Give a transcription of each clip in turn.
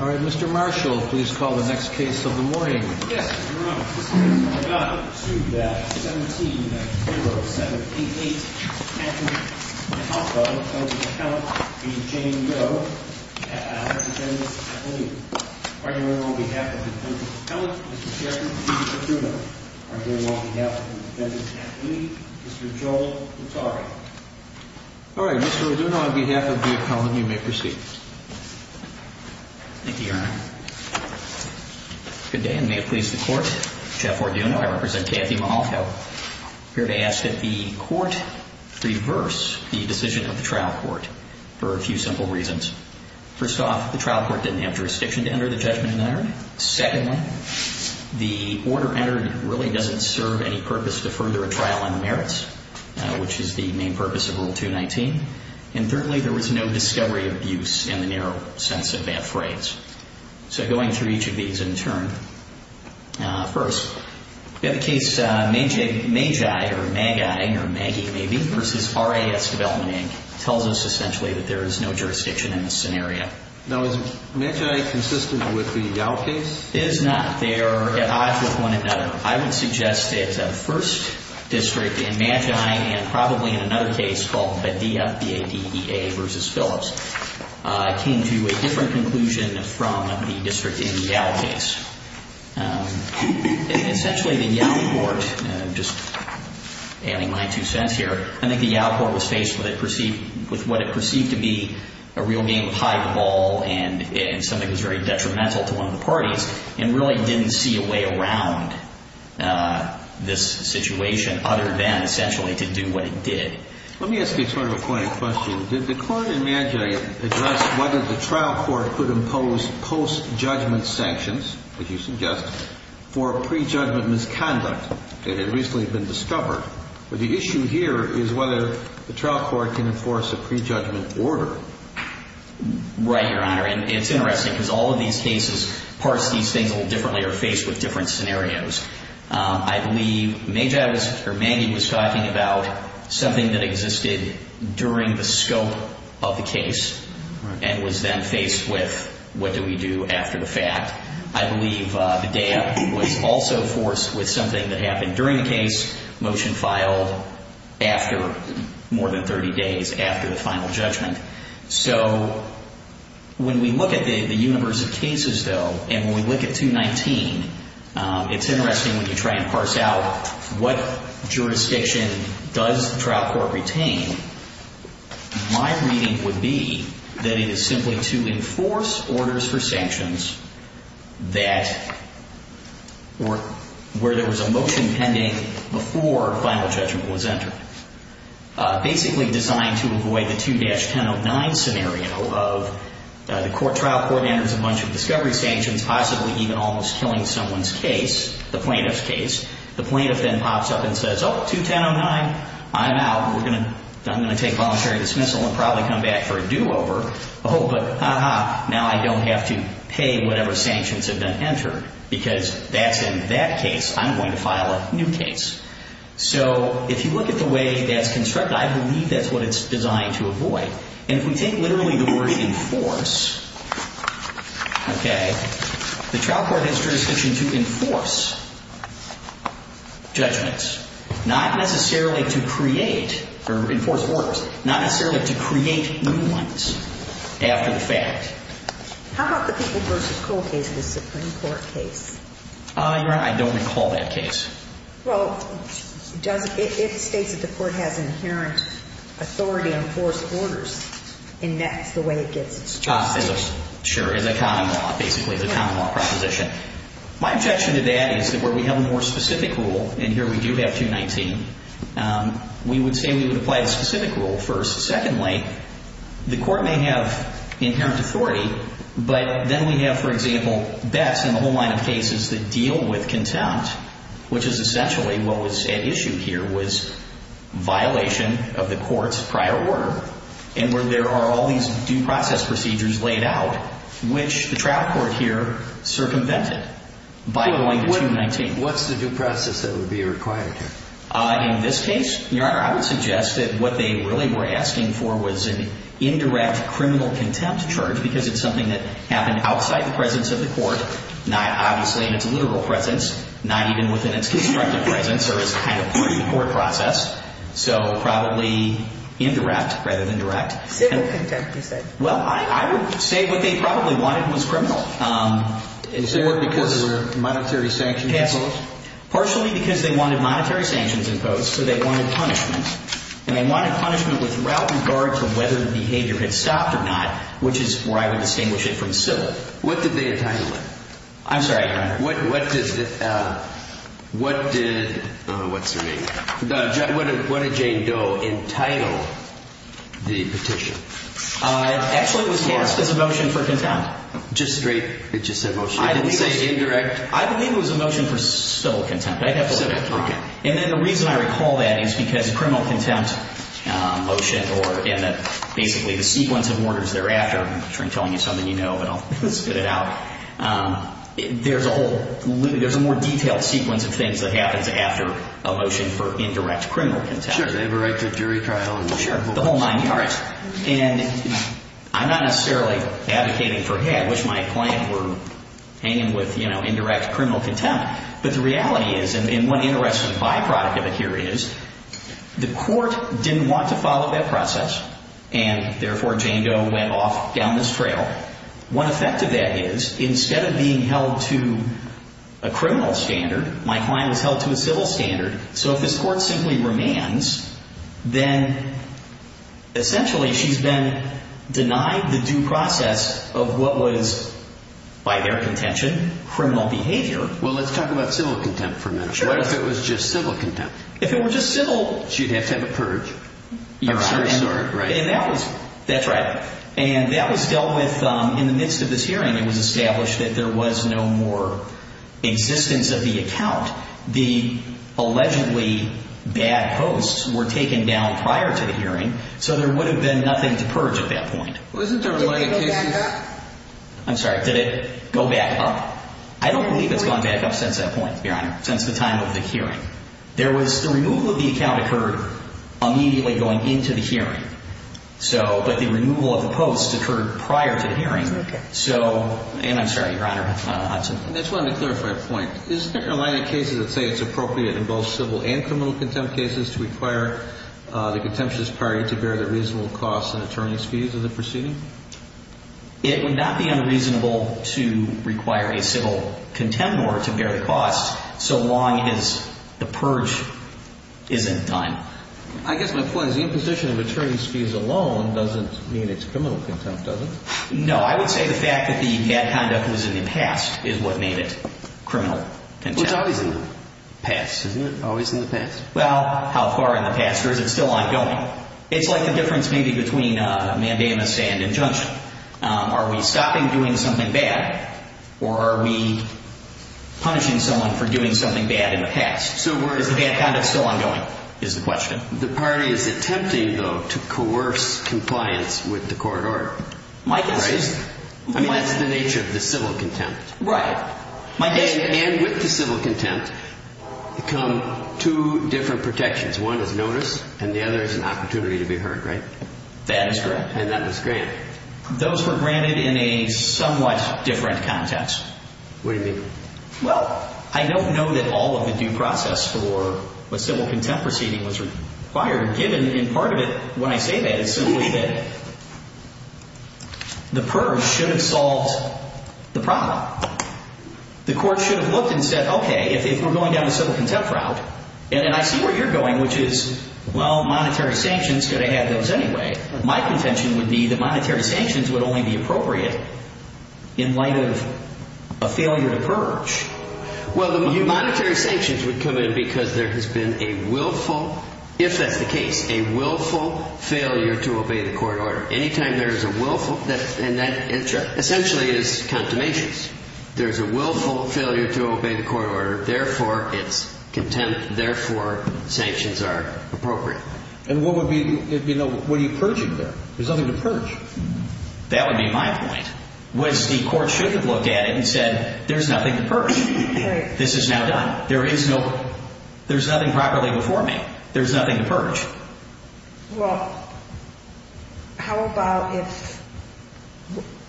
All right, Mr. Marshall, please call the next case of the morning. Yes, Your Honor. This case has been brought up to the 17-0-7-8-8 attorney. I also, on behalf of the defendant's attorney, Mr. Jane Doe, have a defense attorney. Arguing on behalf of the defendant's attorney, Mr. Sharon D. Raduno. Arguing on behalf of the defendant's attorney, Mr. Joel Hattori. All right, Mr. Raduno, on behalf of the appellant, you may proceed. Thank you, Your Honor. Good day, and may it please the Court. Jeff Raduno, I represent Kathy Malalko. Here to ask that the Court reverse the decision of the trial court for a few simple reasons. First off, the trial court didn't have jurisdiction to enter the judgment in the hearing. Secondly, the order entered really doesn't serve any purpose to further a trial on merits, which is the main purpose of Rule 219. And thirdly, there was no discovery of abuse in the narrow sense of that phrase. So going through each of these in turn. First, we have a case, Magi versus RIS Development Inc. Tells us essentially that there is no jurisdiction in this scenario. Now, is Magi consistent with the Dow case? It is not. They are at odds with one another. I would suggest that the first district in Magi and probably in another case called Padilla, B-A-D-E-A versus Phillips, came to a different conclusion from the district in the Yow case. Essentially, the Yow court, just ailing my two cents here, I think the Yow court was faced with what it perceived to be a real game of hide the ball and something that was very detrimental to one of the parties and really didn't see a way around this situation other than essentially to do what it did. Let me ask you sort of a point of question. Did the court in Magi address whether the trial court could impose post-judgment sanctions, as you suggest, for pre-judgment misconduct that had recently been discovered? But the issue here is whether the trial court can enforce a pre-judgment order. Right, Your Honor. And it's interesting because all of these cases parse these things a little differently or are faced with different scenarios. I believe Magi was talking about something that existed during the scope of the case and was then faced with what do we do after the fact. I believe B-A-D-E-A was also forced with something that happened during the case, motion filed after more than 30 days after the final judgment. So when we look at the universe of cases, though, and when we look at 219, it's interesting when you try and parse out what jurisdiction does the trial court retain, my reading would be that it is simply to enforce orders for sanctions that were where there was a motion pending before final judgment was entered. Basically designed to avoid the 2-1009 scenario of the trial court enters a bunch of discovery sanctions, possibly even almost killing someone's case, the plaintiff's case. The plaintiff then pops up and says, oh, 2109, I'm out. I'm going to take voluntary dismissal and probably come back for a do-over. Oh, but ah-ha, now I don't have to pay whatever sanctions have been entered because that's in that case. I'm going to file a new case. So if you look at the way that's constructed, I believe that's what it's designed to avoid. And if we take literally the word enforce, okay, the trial court has jurisdiction to enforce judgments, not necessarily to create or enforce orders, not necessarily to create new ones after the fact. How about the People v. Cole case, the Supreme Court case? Your Honor, I don't recall that case. Well, it states that the court has inherent authority on forced orders, and that's the way it gets its jurisdiction. Sure, in the common law, basically the common law proposition. My objection to that is that where we have a more specific rule, and here we do have 219, we would say we would apply the specific rule first. Secondly, the court may have inherent authority, but then we have, for example, bets in the whole line of cases that deal with contempt, which is essentially what was at issue here was violation of the court's prior order, and where there are all these due process procedures laid out, which the trial court here circumvented by going to 219. What's the due process that would be required here? In this case, Your Honor, I would suggest that what they really were asking for was an indirect criminal contempt charge, because it's something that happened outside the presence of the court, not obviously in its literal presence, not even within its constructive presence, so probably indirect rather than direct. Civil contempt, you said. Well, I would say what they probably wanted was criminal. Was there because there were monetary sanctions imposed? Partially because they wanted monetary sanctions imposed, so they wanted punishment, and they wanted punishment with regard to whether the behavior had stopped or not, which is where I would distinguish it from civil. What did they entitle it? I'm sorry, Your Honor. What did Jane Doe entitle the petition? Actually, it was passed as a motion for contempt. Just straight, it just said motion? I didn't say indirect. I believe it was a motion for civil contempt. I have civil contempt. And then the reason I recall that is because criminal contempt motion, or again, basically the sequence of orders thereafter, I'm sure I'm telling you something you know, but I'll spit it out, there's a whole, there's a more detailed sequence of things that happens after a motion for indirect criminal contempt. Sure. Did they ever write the jury trial? Sure. The whole nine yards. And I'm not necessarily advocating for, hey, I wish my client were hanging with, you know, indirect criminal contempt, but the reality is, and one interesting byproduct of it here is, the court didn't want to follow that process, and therefore Jane Doe went off down this trail. One effect of that is, instead of being held to a criminal standard, my client was held to a civil standard. So if this court simply remands, then essentially she's been denied the due process of what was, by their contention, criminal behavior. Well, let's talk about civil contempt for a minute. Sure. What if it was just civil contempt? If it were just civil... She'd have to have a purge. You're so right. That's right. And that was dealt with in the midst of this hearing. It was established that there was no more existence of the account. The allegedly bad posts were taken down prior to the hearing, so there would have been nothing to purge at that point. Wasn't there a... Did it go back up? I'm sorry. Did it go back up? I don't believe it's gone back up since that point, Your Honor, since the time of the hearing. The removal of the account occurred immediately going into the hearing. But the removal of the posts occurred prior to the hearing. Okay. And I'm sorry, Your Honor. I just wanted to clarify a point. Isn't there a line of cases that say it's appropriate in both civil and criminal contempt cases to require the contemptuous party to bear the reasonable costs and attorney's fees of the proceeding? It would not be unreasonable to require a civil contempt order to bear the costs so long as the purge isn't done. I guess my point is the imposition of attorney's fees alone doesn't mean it's criminal contempt, does it? No. I would say the fact that the bad conduct was in the past is what made it criminal contempt. Well, it's always in the past, isn't it? Always in the past. Well, how far in the past, or is it still ongoing? It's like the difference maybe between mandamus and injunction. Are we stopping doing something bad, or are we punishing someone for doing something bad in the past? Is the bad conduct still ongoing is the question. The party is attempting, though, to coerce compliance with the court order. My guess is. Right? I mean, that's the nature of the civil contempt. Right. And with the civil contempt come two different protections. One is notice, and the other is an opportunity to be heard, right? That is correct. And that was granted. Those were granted in a somewhat different context. What do you mean? Well, I don't know that all of the due process for a civil contempt proceeding was required, given, and part of it, when I say that, is simply that the PERS should have solved the problem. The court should have looked and said, okay, if we're going down a civil contempt route, and I see where you're going, which is, well, monetary sanctions could have had those anyway. My contention would be that monetary sanctions would only be appropriate in light of a failure to purge. Well, the monetary sanctions would come in because there has been a willful, if that's the case, a willful failure to obey the court order. Any time there is a willful, and that essentially is condemnations. There's a willful failure to obey the court order. Therefore, it's contempt. Therefore, sanctions are appropriate. And what would be, you know, what are you purging there? There's nothing to purge. That would be my point, was the court should have looked at it and said, there's nothing to purge. This is now done. There is no, there's nothing properly before me. There's nothing to purge. Well, how about if,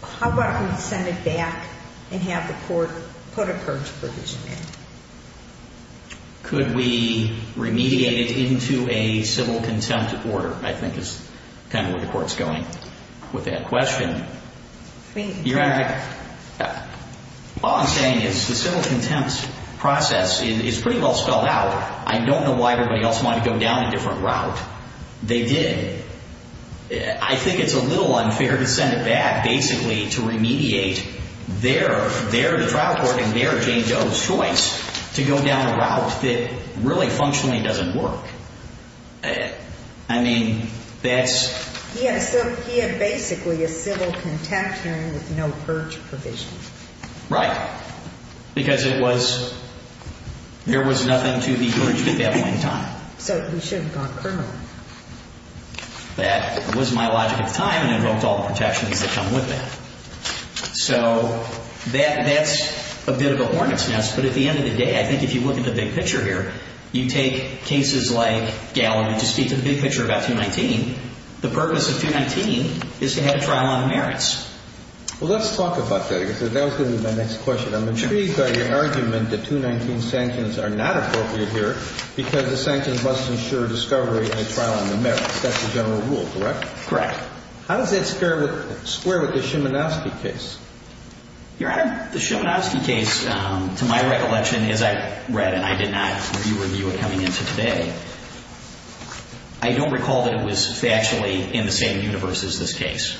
how about we send it back and have the court put a purge provision in? Could we remediate it into a civil contempt order, I think is kind of where the court's going with that question. Your Honor, all I'm saying is the civil contempt process is pretty well spelled out. I don't know why everybody else wanted to go down a different route. They did. I think it's a little unfair to send it back, basically, to remediate their, their trial court and their, Jane Doe's choice to go down a route that really functionally doesn't work. I mean, that's. Yeah, so he had basically a civil contempt hearing with no purge provision. Right. Because it was, there was nothing to be purged at that point in time. So he should have gone criminally. That was my logic at the time and invoked all the protections that come with that. So that, that's a bit of a hornet's nest. But at the end of the day, I think if you look at the big picture here, you take cases like Gallery to speak to the big picture about 219. The purpose of 219 is to have a trial on the merits. Well, let's talk about that. That was going to be my next question. I'm intrigued by your argument that 219 sanctions are not appropriate here because the sanctions must ensure discovery and a trial on the merits. That's the general rule, correct? Correct. How does that square with, square with the Shimanowski case? Your Honor, the Shimanowski case, to my recollection, as I read and I did not review what you were coming into today, I don't recall that it was factually in the same universe as this case.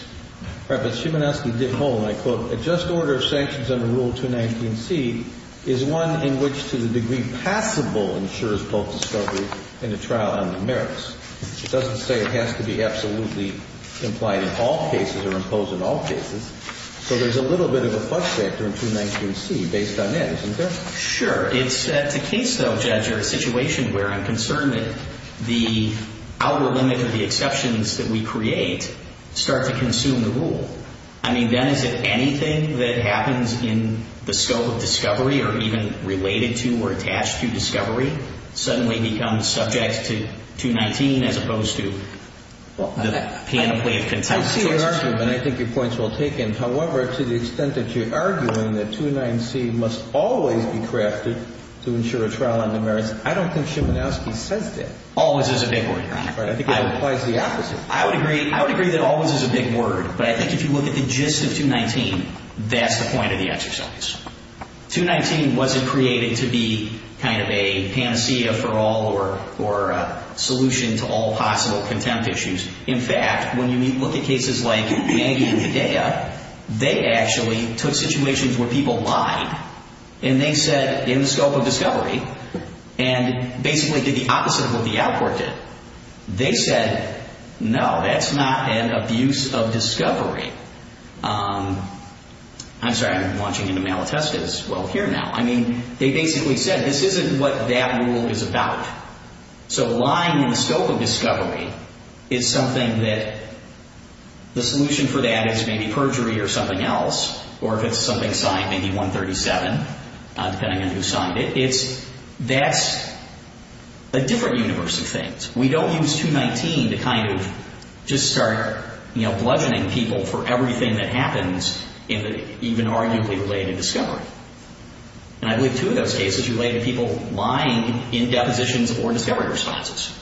Right. But Shimanowski did hold, and I quote, A just order of sanctions under Rule 219C is one in which to the degree possible ensures both discovery and a trial on the merits. It doesn't say it has to be absolutely implied in all cases or imposed in all cases. So there's a little bit of a fudge factor in 219C based on that, isn't there? Sure. It's a case, though, Judge, or a situation where I'm concerned that the outward limit of the exceptions that we create start to consume the rule. I mean, then is it anything that happens in the scope of discovery or even related to or attached to discovery suddenly becomes subject to 219 as opposed to the panoply of contested choices? I see your argument. I think your point's well taken. However, to the extent that you're arguing that 219C must always be crafted to ensure a trial on the merits, I don't think Shimanowski says that. Always is a big word. Right. I think it implies the opposite. I would agree that always is a big word, but I think if you look at the gist of 219, that's the point of the exercise. 219 wasn't created to be kind of a panacea for all or a solution to all possible contempt issues. In fact, when you look at cases like Maggie and Hedaya, they actually took situations where people lied, and they said in the scope of discovery, and basically did the opposite of what the outcourt did. They said, no, that's not an abuse of discovery. I'm sorry. I'm launching into Malatesta as well here now. I mean, they basically said this isn't what that rule is about. So lying in the scope of discovery is something that the solution for that is maybe perjury or something else, or if it's something signed, maybe 137, depending on who signed it. That's a different universe of things. We don't use 219 to kind of just start bludgeoning people for everything that happens in the even arguably related discovery. And I believe two of those cases related to people lying in depositions or discovery responses.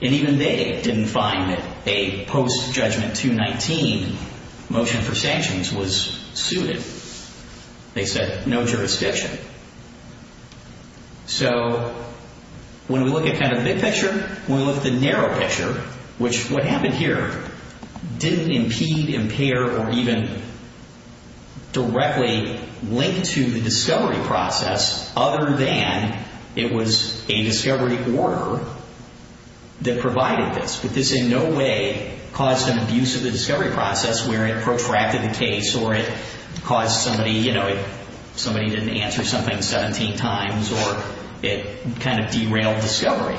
And even they didn't find that a post-judgment 219 motion for sanctions was suited. They said no jurisdiction. So when we look at kind of the big picture, when we look at the narrow picture, which what happened here didn't impede, impair, or even directly link to the discovery process other than it was a discovery order that provided this. But this in no way caused an abuse of the discovery process where it protracted the case or it caused somebody, you know, somebody didn't answer something 17 times or it kind of derailed discovery.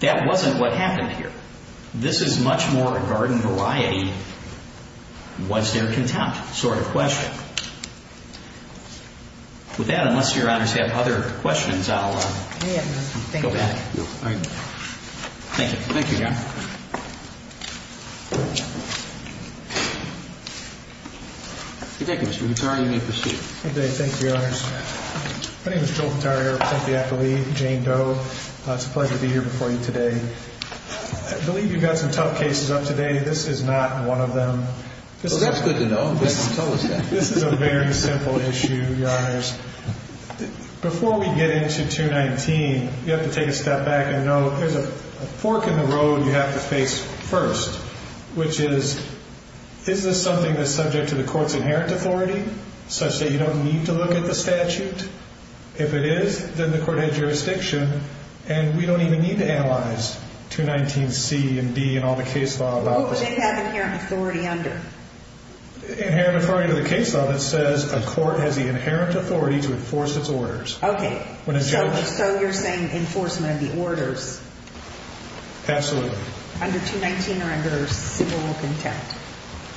That wasn't what happened here. This is much more a garden variety, what's their contempt sort of question. With that, unless Your Honors have other questions, I'll go back. Thank you. Thank you, Your Honor. Good day, Mr. Gutierrez. You may proceed. Good day. Thank you, Your Honors. My name is Joel Gutierrez. I'm here with Cynthia Eppley and Jane Doe. It's a pleasure to be here before you today. I believe you've got some tough cases up today. This is not one of them. Well, that's good to know. I'm glad someone told us that. This is a very simple issue, Your Honors. Before we get into 219, you have to take a step back and know there's a fork in the road you have to face first, which is is this something that's subject to the court's inherent authority such that you don't need to look at the statute? If it is, then the court had jurisdiction, and we don't even need to analyze 219C and D and all the case law about this. What would they have inherent authority under? Inherent authority under the case law that says a court has the inherent authority to enforce its orders. Okay. So you're saying enforcement of the orders. Absolutely. Under 219 or under civil contempt?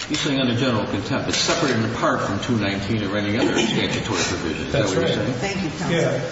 He's saying under general contempt. It's separate and apart from 219 or any other statutory provision. That's right. Thank you, counsel. Yeah.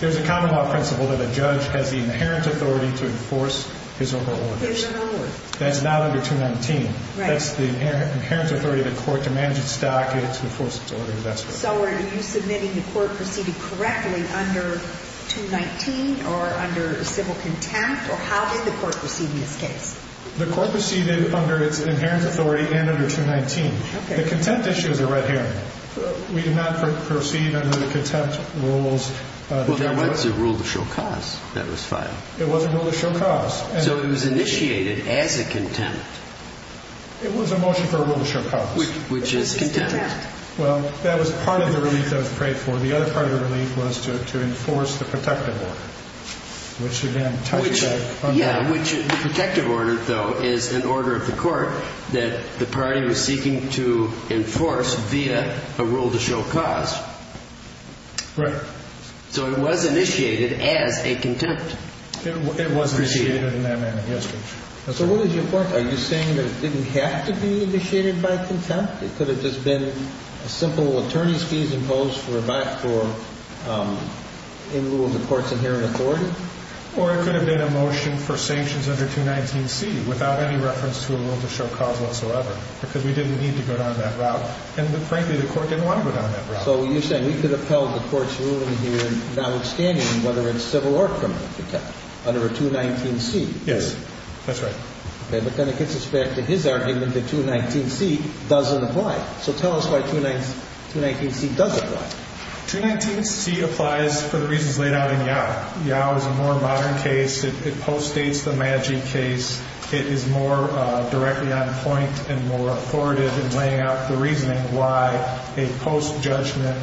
There's a common law principle that a judge has the inherent authority to enforce his or her orders. His or her orders. That's not under 219. Right. That's the inherent authority of the court to manage its stock and to enforce its orders. That's what it is. So are you submitting the court proceeding correctly under 219 or under civil contempt, or how did the court proceed in this case? The court proceeded under its inherent authority and under 219. Okay. The contempt issues are right here. We did not proceed under the contempt rules. Well, there was a rule to show cause that was filed. It was a rule to show cause. So it was initiated as a contempt. It was a motion for a rule to show cause. Which is contempt. Well, that was part of the relief that was prayed for. The other part of the relief was to enforce the protective order, Yeah, which the protective order, though, is an order of the court that the party was seeking to enforce via a rule to show cause. Right. So it was initiated as a contempt. It was initiated in that manner. Yes, Your Honor. So what is your point? Are you saying that it didn't have to be initiated by contempt? It could have just been a simple attorney's fees imposed for a back for a rule of the court's inherent authority? Or it could have been a motion for sanctions under 219C without any reference to a rule to show cause whatsoever? Because we didn't need to go down that route. And frankly, the court didn't want to go down that route. So you're saying we could have held the court's ruling here notwithstanding whether it's civil or criminal contempt under 219C? Yes. That's right. Okay. But then it gets us back to his argument that 219C doesn't apply. So tell us why 219C does apply. 219C applies for the reasons laid out in YOW. YOW is a more modern case. It postdates the MAGI case. It is more directly on point and more authoritative in laying out the reasoning why a post-judgment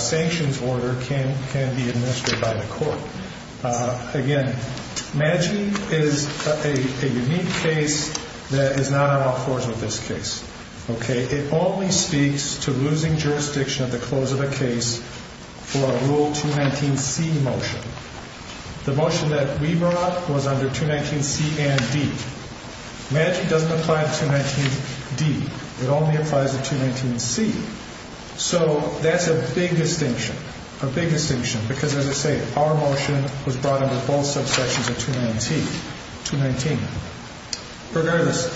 sanctions order can be administered by the court. Again, MAGI is a unique case that is not on all fours with this case. Okay? It only speaks to losing jurisdiction at the close of a case for a Rule 219C motion. The motion that we brought was under 219C and D. MAGI doesn't apply to 219D. It only applies to 219C. So that's a big distinction, a big distinction. Because, as I say, our motion was brought under both subsections of 219. Regardless,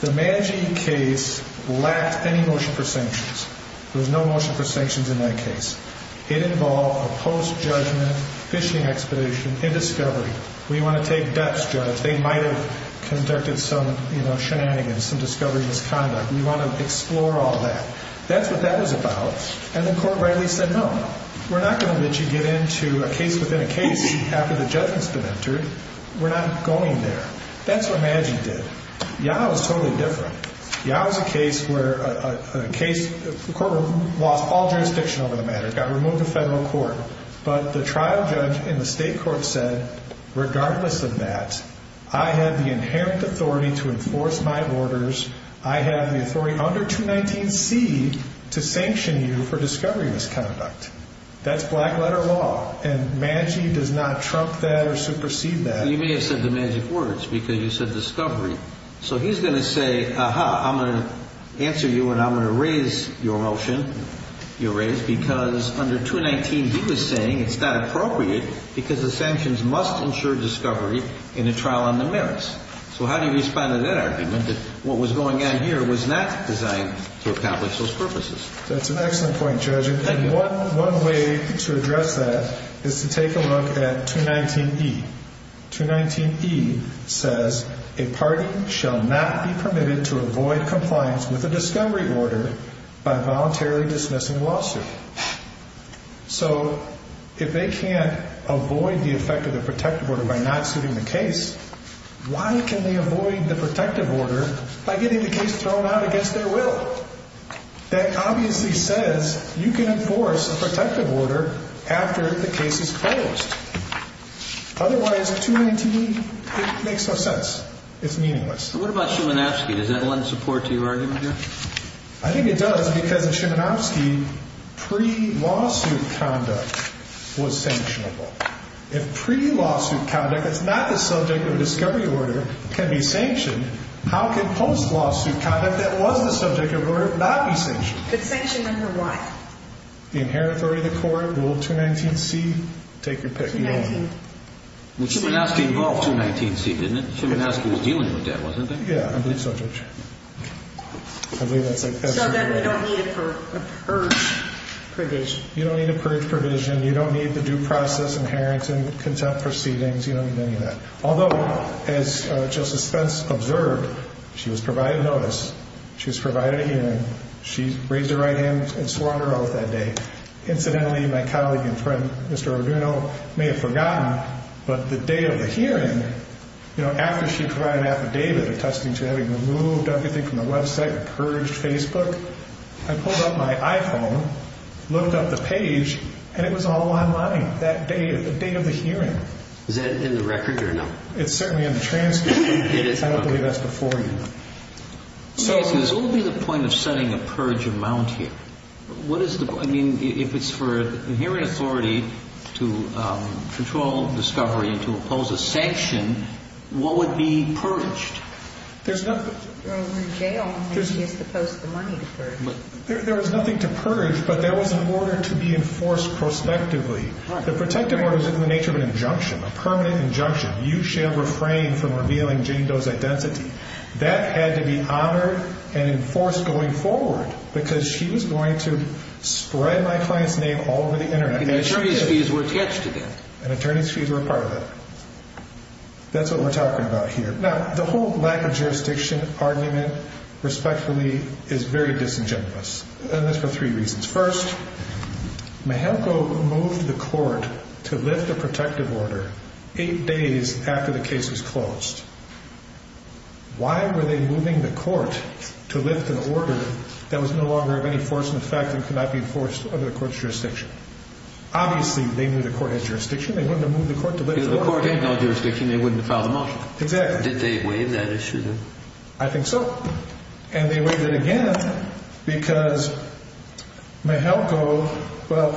the MAGI case lacked any motion for sanctions. There was no motion for sanctions in that case. It involved a post-judgment fishing expedition in discovery. We want to take debts, Judge. They might have conducted some shenanigans, some discovery misconduct. We want to explore all that. That's what that was about. And the court rightly said, No, we're not going to let you get into a case within a case after the judgment's been entered. We're not going there. That's what MAGI did. YOW is totally different. YOW is a case where the courtroom lost all jurisdiction over the matter, got removed to federal court. But the trial judge in the state court said, Regardless of that, I have the inherent authority to enforce my orders. I have the authority under 219C to sanction you for discovery misconduct. That's black-letter law. And MAGI does not trump that or supersede that. You may have said the MAGI words because you said discovery. So he's going to say, Aha, I'm going to answer you, and I'm going to raise your motion, your raise, because under 219B was saying it's not appropriate because the sanctions must ensure discovery in a trial on the merits. So how do you respond to that argument, that what was going on here was not designed to accomplish those purposes? That's an excellent point, Judge. And one way to address that is to take a look at 219E. 219E says a party shall not be permitted to avoid compliance with a discovery order by voluntarily dismissing a lawsuit. So if they can't avoid the effect of the protective order by not suiting the case, why can they avoid the protective order by getting the case thrown out against their will? That obviously says you can enforce a protective order after the case is dismissed. Otherwise, 219E, it makes no sense. It's meaningless. And what about Shimanovsky? Does that lend support to your argument, Judge? I think it does because in Shimanovsky, pre-lawsuit conduct was sanctionable. If pre-lawsuit conduct that's not the subject of a discovery order can be sanctioned, how can post-lawsuit conduct that was the subject of the order not be sanctioned? But sanctioned under what? The inherent authority of the court, Rule 219C, take your pick. Well, Shimanovsky involved 219C, didn't it? Shimanovsky was dealing with that, wasn't he? Yeah, I believe so, Judge. So then they don't need a purge provision. You don't need a purge provision. You don't need the due process, inherent consent proceedings. You don't need any of that. Although, as Justice Spence observed, she was provided notice. She was provided a hearing. She raised her right hand and swore an oath that day. Incidentally, my colleague and friend, Mr. Arduino, may have forgotten, but the day of the hearing, you know, after she provided an affidavit attesting to having removed everything from the website, purged Facebook, I pulled up my iPhone, looked up the page, and it was all online that day, the date of the hearing. Is that in the record or no? It's certainly in the transcript. I don't believe that's before you. So what would be the point of setting a purge amount here? I mean, if it's for inherent authority to control discovery and to impose a sanction, what would be purged? There's nothing to purge, but there was an order to be enforced prospectively. The protective order is in the nature of an injunction, a permanent injunction. You shall refrain from revealing Jane Doe's identity. That had to be honored and enforced going forward because she was going to spread my client's name all over the Internet. And attorney's fees were attached to that. And attorney's fees were a part of it. That's what we're talking about here. Now, the whole lack of jurisdiction argument, respectfully, is very disingenuous, and that's for three reasons. First, Mahelko moved the court to lift the protective order eight days after the case was closed. Why were they moving the court to lift an order that was no longer of any force in effect and could not be enforced under the court's jurisdiction? Obviously, they knew the court had jurisdiction. They wouldn't have moved the court to lift the order. If the court had no jurisdiction, they wouldn't have filed the motion. Exactly. Did they waive that issue? I think so. And they waived it again because Mahelko, well,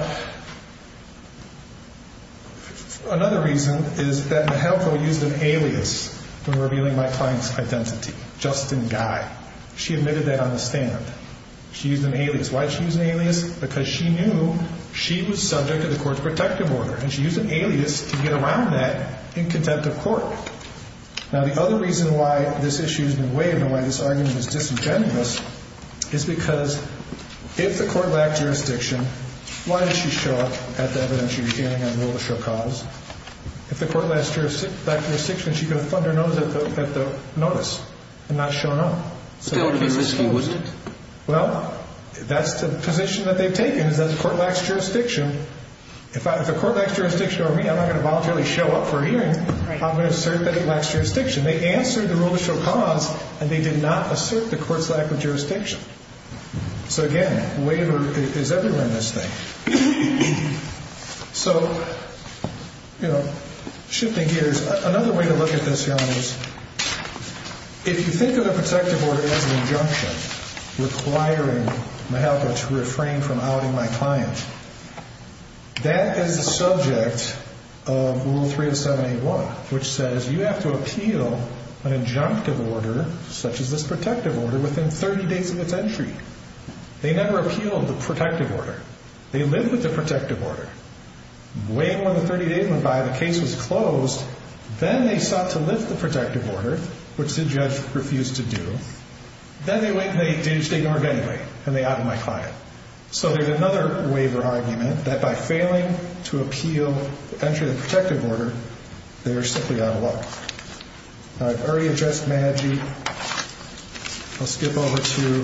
another reason is that Mahelko used an alias when revealing my client's identity, Justin Guy. She admitted that on the stand. She used an alias. Why did she use an alias? Because she knew she was subject to the court's protective order, and she used an alias to get around that in contempt of court. Now, the other reason why this issue has been waived and why this argument is disingenuous is because if the court lacked jurisdiction, why did she show up at the evidence she was dealing and rule to show cause? If the court lacked jurisdiction, she could have thundered on at the notice and not shown up. Still, it would have been risky, wouldn't it? Well, that's the position that they've taken is that the court lacks jurisdiction. If the court lacks jurisdiction over me, I'm not going to voluntarily show up for a hearing. I'm going to assert that it lacks jurisdiction. They answered the rule to show cause, and they did not assert the court's lack of jurisdiction. So, again, waiver is everywhere in this thing. So, you know, shifting gears, another way to look at this, Jan, is if you think of a protective order as an injunction requiring my help to refrain from outing my client, that is the subject of Rule 307-81, which says you have to appeal an injunctive order, such as this protective order, within 30 days of its entry. They never appealed the protective order. They lived with the protective order. Wait one to 30 days went by, the case was closed. Then they sought to lift the protective order, which the judge refused to do. Then they went and they did just ignore it anyway, and they outed my client. So there's another waiver argument that by failing to appeal the entry of the protective order, they are simply out of luck. I've already addressed MAGI. I'll skip over to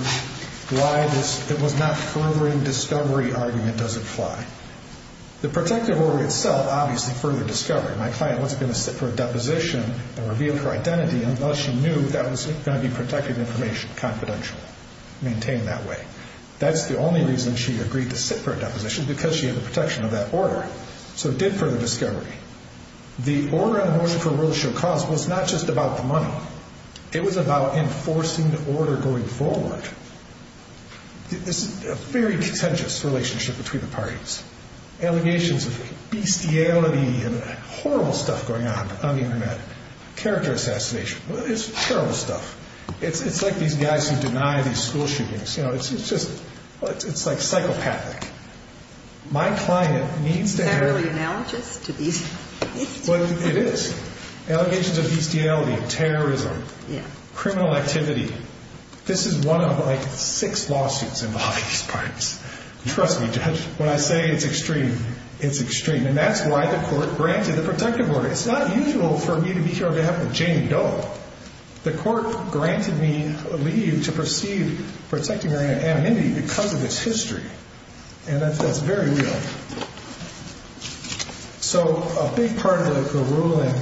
why it was not furthering discovery argument doesn't fly. The protective order itself obviously furthered discovery. My client wasn't going to sit for a deposition and reveal her identity unless she knew that was going to be protected information, confidential, maintained that way. That's the only reason she agreed to sit for a deposition, because she had the protection of that order. So it did further discovery. The order for World Show Cause was not just about the money. It was about enforcing the order going forward. This is a very contentious relationship between the parties. Allegations of bestiality and horrible stuff going on on the Internet. Character assassination. It's terrible stuff. It's like these guys who deny these school shootings. It's like psychopathic. My client needs to have. Is that really analogous to bestiality? It is. Allegations of bestiality, terrorism, criminal activity. This is one of like six lawsuits involving these parties. Trust me, Judge, when I say it's extreme, it's extreme. And that's why the court granted the protective order. It's not usual for me to be here on behalf of Jamie Dole. The court granted me leave to proceed protecting her anonymity because of this history. And that's very real. So a big part of the ruling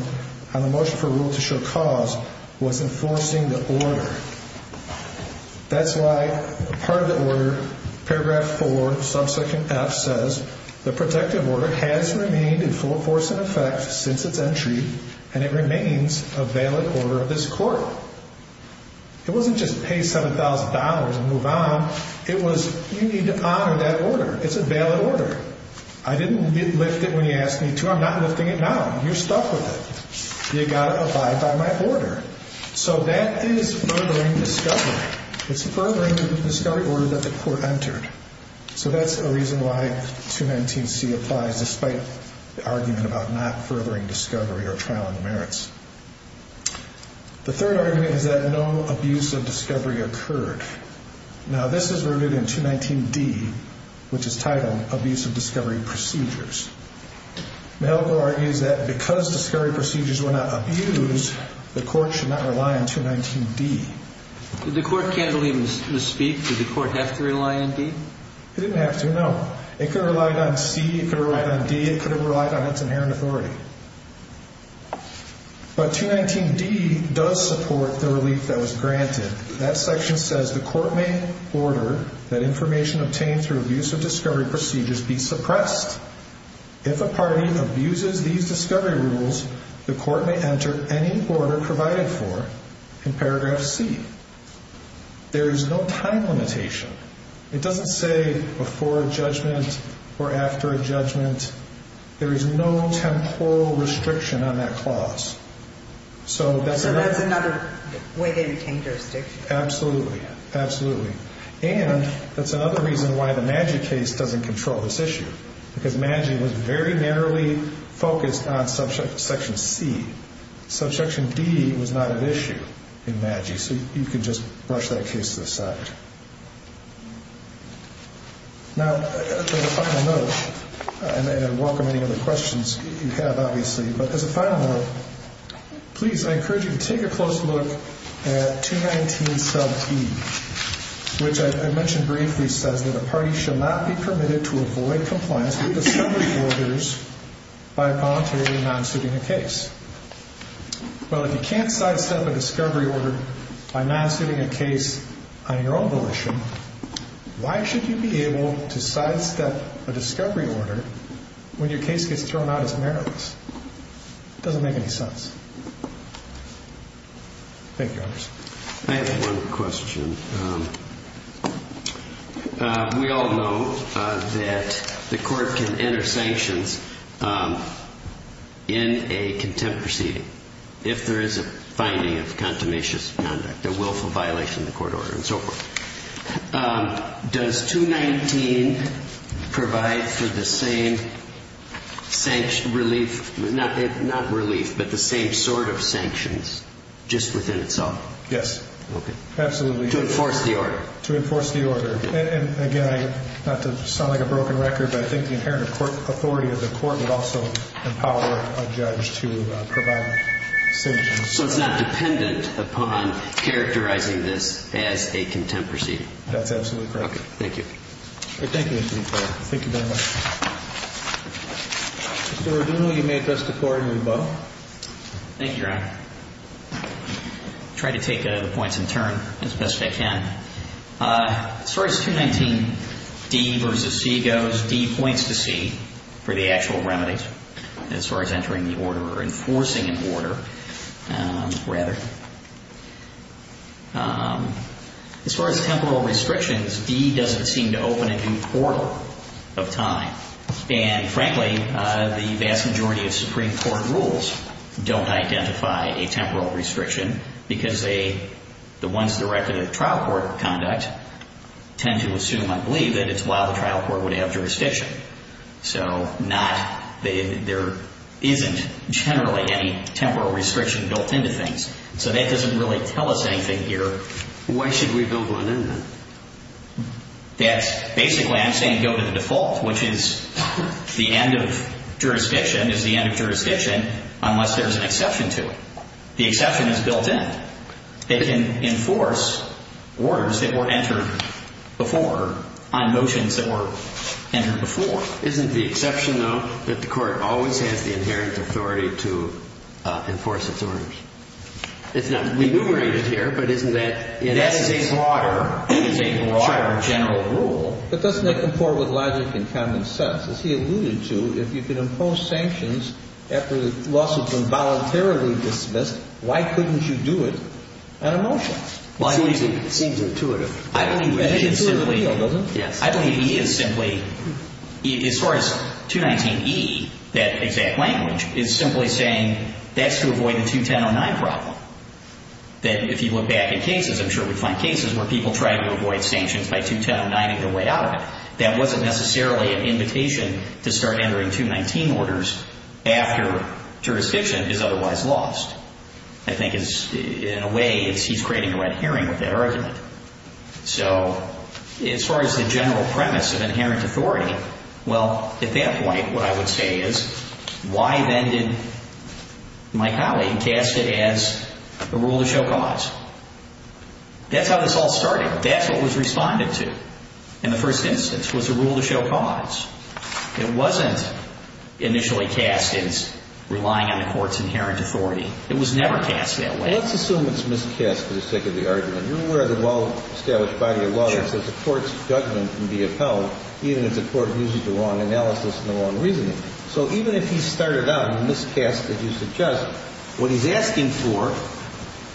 on the motion for World Show Cause was enforcing the order. That's why part of the order. Paragraph four, subsequent F says the protective order has remained in full force in effect since its entry, and it remains a valid order of this court. It wasn't just pay $7,000 and move on. It was you need to honor that order. It's a valid order. I didn't lift it when you asked me to. I'm not lifting it now. You're stuck with it. You gotta abide by my order. So that is furthering discovery. It's furthering the discovery order that the court entered. So that's a reason why 219C applies, despite the argument about not furthering discovery or trial on the merits. The third argument is that no abuse of discovery occurred. Now, this is rooted in 219D, which is titled Abuse of Discovery Procedures. Malco argues that because discovery procedures were not abused, the court should not rely on 219D. The court can't believe in the speak. Did the court have to rely on D? It didn't have to, no. It could have relied on C. It could have relied on D. It could have relied on its inherent authority. But 219D does support the relief that was granted. That section says the court may order that information obtained through abuse of discovery procedures be suppressed. If a party abuses these discovery rules, the court may enter any order provided for in paragraph C. There is no time limitation. It doesn't say before a judgment or after a judgment. There is no temporal restriction on that clause. So that's another way they retain jurisdiction. Absolutely. Absolutely. And that's another reason why the Maggi case doesn't control this issue, because Maggi was very narrowly focused on section C. Subsection D was not an issue in Maggi. So you can just brush that case to the side. Now, as a final note, and I welcome any other questions you have, obviously, but as a final note, please, I encourage you to take a close look at 219 sub E, which I mentioned briefly, says that a party shall not be permitted to avoid compliance with discovery orders by voluntarily non-suiting a case. Well, if you can't sidestep a discovery order by non-suiting a case on your own volition, why should you be able to sidestep a discovery order when your case gets thrown out as meritless? It doesn't make any sense. Thank you, Your Honor. I have one question. We all know that the court can enter sanctions in a contempt proceeding, if there is a finding of a contumacious conduct, a willful violation of the court order, and so forth. Does 219 provide for the same relief, not relief, but the same sort of sanctions just within itself? Yes. Absolutely. To enforce the order. To enforce the order. And again, not to sound like a broken record, but I think the inherent authority of the court would also empower a judge to provide sanctions. So it's not dependent upon characterizing this as a contempt proceeding. That's absolutely correct. Okay. Thank you. Thank you, Mr. McFarland. Thank you very much. Mr. Arduno, you may address the Court in rebuttal. Thank you, Your Honor. I'll try to take the points in turn as best I can. As far as 219D versus C goes, D points to C for the actual remedies as far as monitoring the order or enforcing an order, rather. As far as temporal restrictions, D doesn't seem to open a new portal of time. And frankly, the vast majority of Supreme Court rules don't identify a temporal restriction because the ones directed at trial court conduct tend to assume, I believe, that it's while the trial court would have jurisdiction. So there isn't generally any temporal restriction built into things. So that doesn't really tell us anything here. Why should we build one in then? Basically, I'm saying go to the default, which is the end of jurisdiction is the end of jurisdiction unless there's an exception to it. The exception is built in. It can enforce orders that were entered before on motions that were entered before. Isn't the exception, though, that the court always has the inherent authority to enforce its orders? It's not enumerated here, but isn't that in essence a broader general rule? But doesn't that comport with logic in common sense? As he alluded to, if you can impose sanctions after the lawsuit's been voluntarily dismissed, why couldn't you do it on a motion? Well, I believe it seems intuitive. I believe E is simply, as far as 219E, that exact language, is simply saying that's to avoid the 2109 problem. That if you look back at cases, I'm sure we find cases where people try to avoid sanctions by 2109-ing their way out of it. That wasn't necessarily an invitation to start entering 219 orders after jurisdiction is otherwise lost. I think in a way he's creating a red herring with that argument. So as far as the general premise of inherent authority, well, at that point what I would say is why then did my colleague cast it as a rule to show cause? That's how this all started. That's what was responded to in the first instance was a rule to show cause. It wasn't initially cast as relying on the court's inherent authority. It was never cast that way. Let's assume it's miscast for the sake of the argument. You're aware of the well-established body of law that says the court's judgment can be upheld even if the court uses the wrong analysis and the wrong reasoning. So even if he started out in the miscast that you suggest, what he's asking for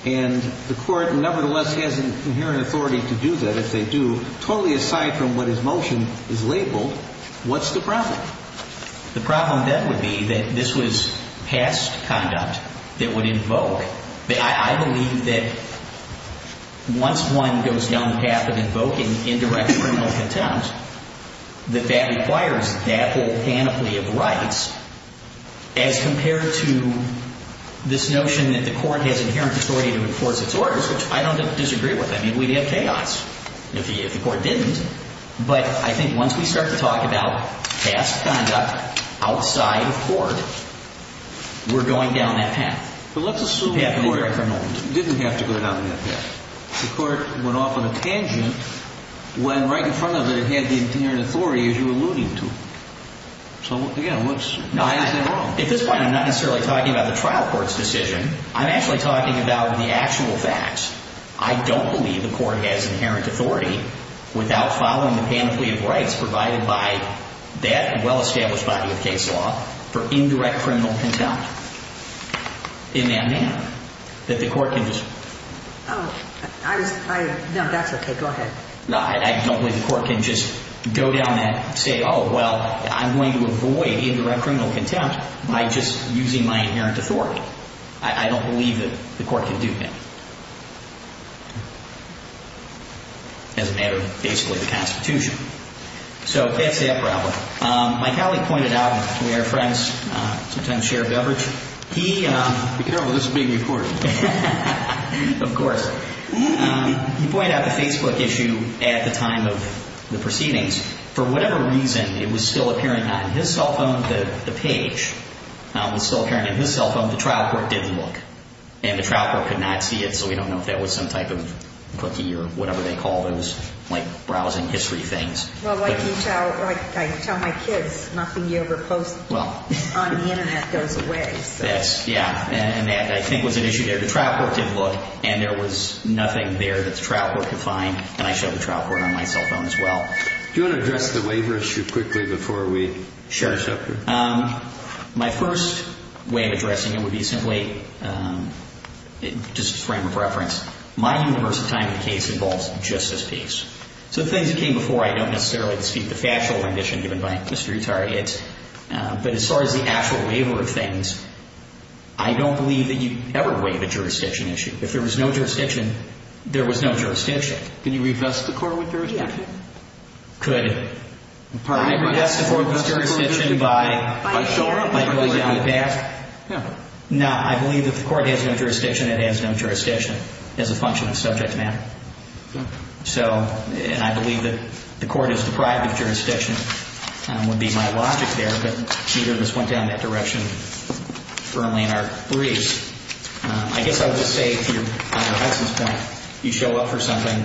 and the court nevertheless has inherent authority to do that if they do, totally aside from what his motion is labeled, what's the problem? The problem then would be that this was past conduct that would invoke, that I believe that once one goes down the path of invoking indirect criminal contempt, that that requires that whole panoply of rights as compared to this notion that the court has inherent authority to enforce its orders, which I don't disagree with. I mean, we'd have chaos if the court didn't. But I think once we start to talk about past conduct outside of court, we're going down that path. But let's assume the court didn't have to go down that path. The court went off on a tangent when right in front of it, it had the inherent authority as you were alluding to. So again, why is that wrong? At this point, I'm not necessarily talking about the trial court's decision. I'm actually talking about the actual facts. I don't believe the court has inherent authority without following the panoply of rights provided by that well-established body of case law for indirect criminal contempt. Amen, amen. That the court can just... Oh, no, that's okay. Go ahead. No, I don't believe the court can just go down that and say, oh, well, I'm going to avoid indirect criminal contempt by just using my inherent authority. I don't believe that the court can do that. It doesn't matter, basically, the Constitution. So that's the upper element. My colleague pointed out, we are friends, sometimes share a beverage. Be careful, this is being recorded. Of course. He pointed out the Facebook issue at the time of the proceedings. For whatever reason, it was still appearing on his cell phone, the page was still appearing on his cell phone. The trial court didn't look. And the trial court could not see it, so we don't know if that was some type of cookie or whatever they call those, like browsing history things. Well, like I tell my kids, nothing you ever post on the Internet goes away. Yeah, and that, I think, was an issue there. The trial court didn't look, and there was nothing there that the trial court could find, and I showed the trial court on my cell phone as well. Do you want to address the waiver issue quickly before we share a chapter? Sure. My first way of addressing it would be simply, just as a frame of reference, my universal time in the case involves just this piece. So the things that came before, I don't necessarily speak to the factual rendition given by Mr. Utari, but as far as the actual waiver of things, I don't believe that you ever waive a jurisdiction issue. If there was no jurisdiction, there was no jurisdiction. Can you revest the court with jurisdiction? Could I revest the court with jurisdiction by going down the path? No, I believe that the court has no jurisdiction, it has no jurisdiction as a function of subject matter. So, and I believe that the court is deprived of jurisdiction would be my logic there, but neither of us went down that direction firmly in our briefs. I guess I would just say, to your essence point, you show up for something,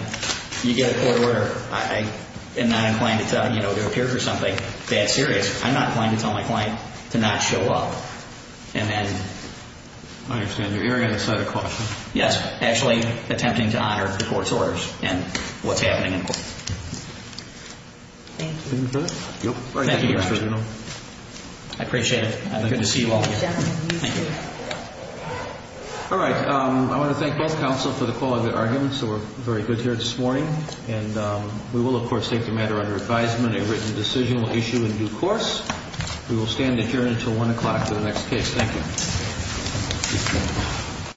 you get a court order. I am not inclined to tell, you know, to appear for something that serious. I'm not inclined to tell my client to not show up. And then... I understand. You're very on the side of caution. Yes, actually attempting to honor the court's orders and what's happening in court. Thank you. Anything further? Thank you, Your Honor. I appreciate it. Good to see you all again. Thank you. All right. I want to thank both counsel for the quality of their arguments, so we're very good here this morning. And we will, of course, take the matter under advisement, a written decision will issue in due course. We will stand adjourned until 1 o'clock for the next case. Thank you.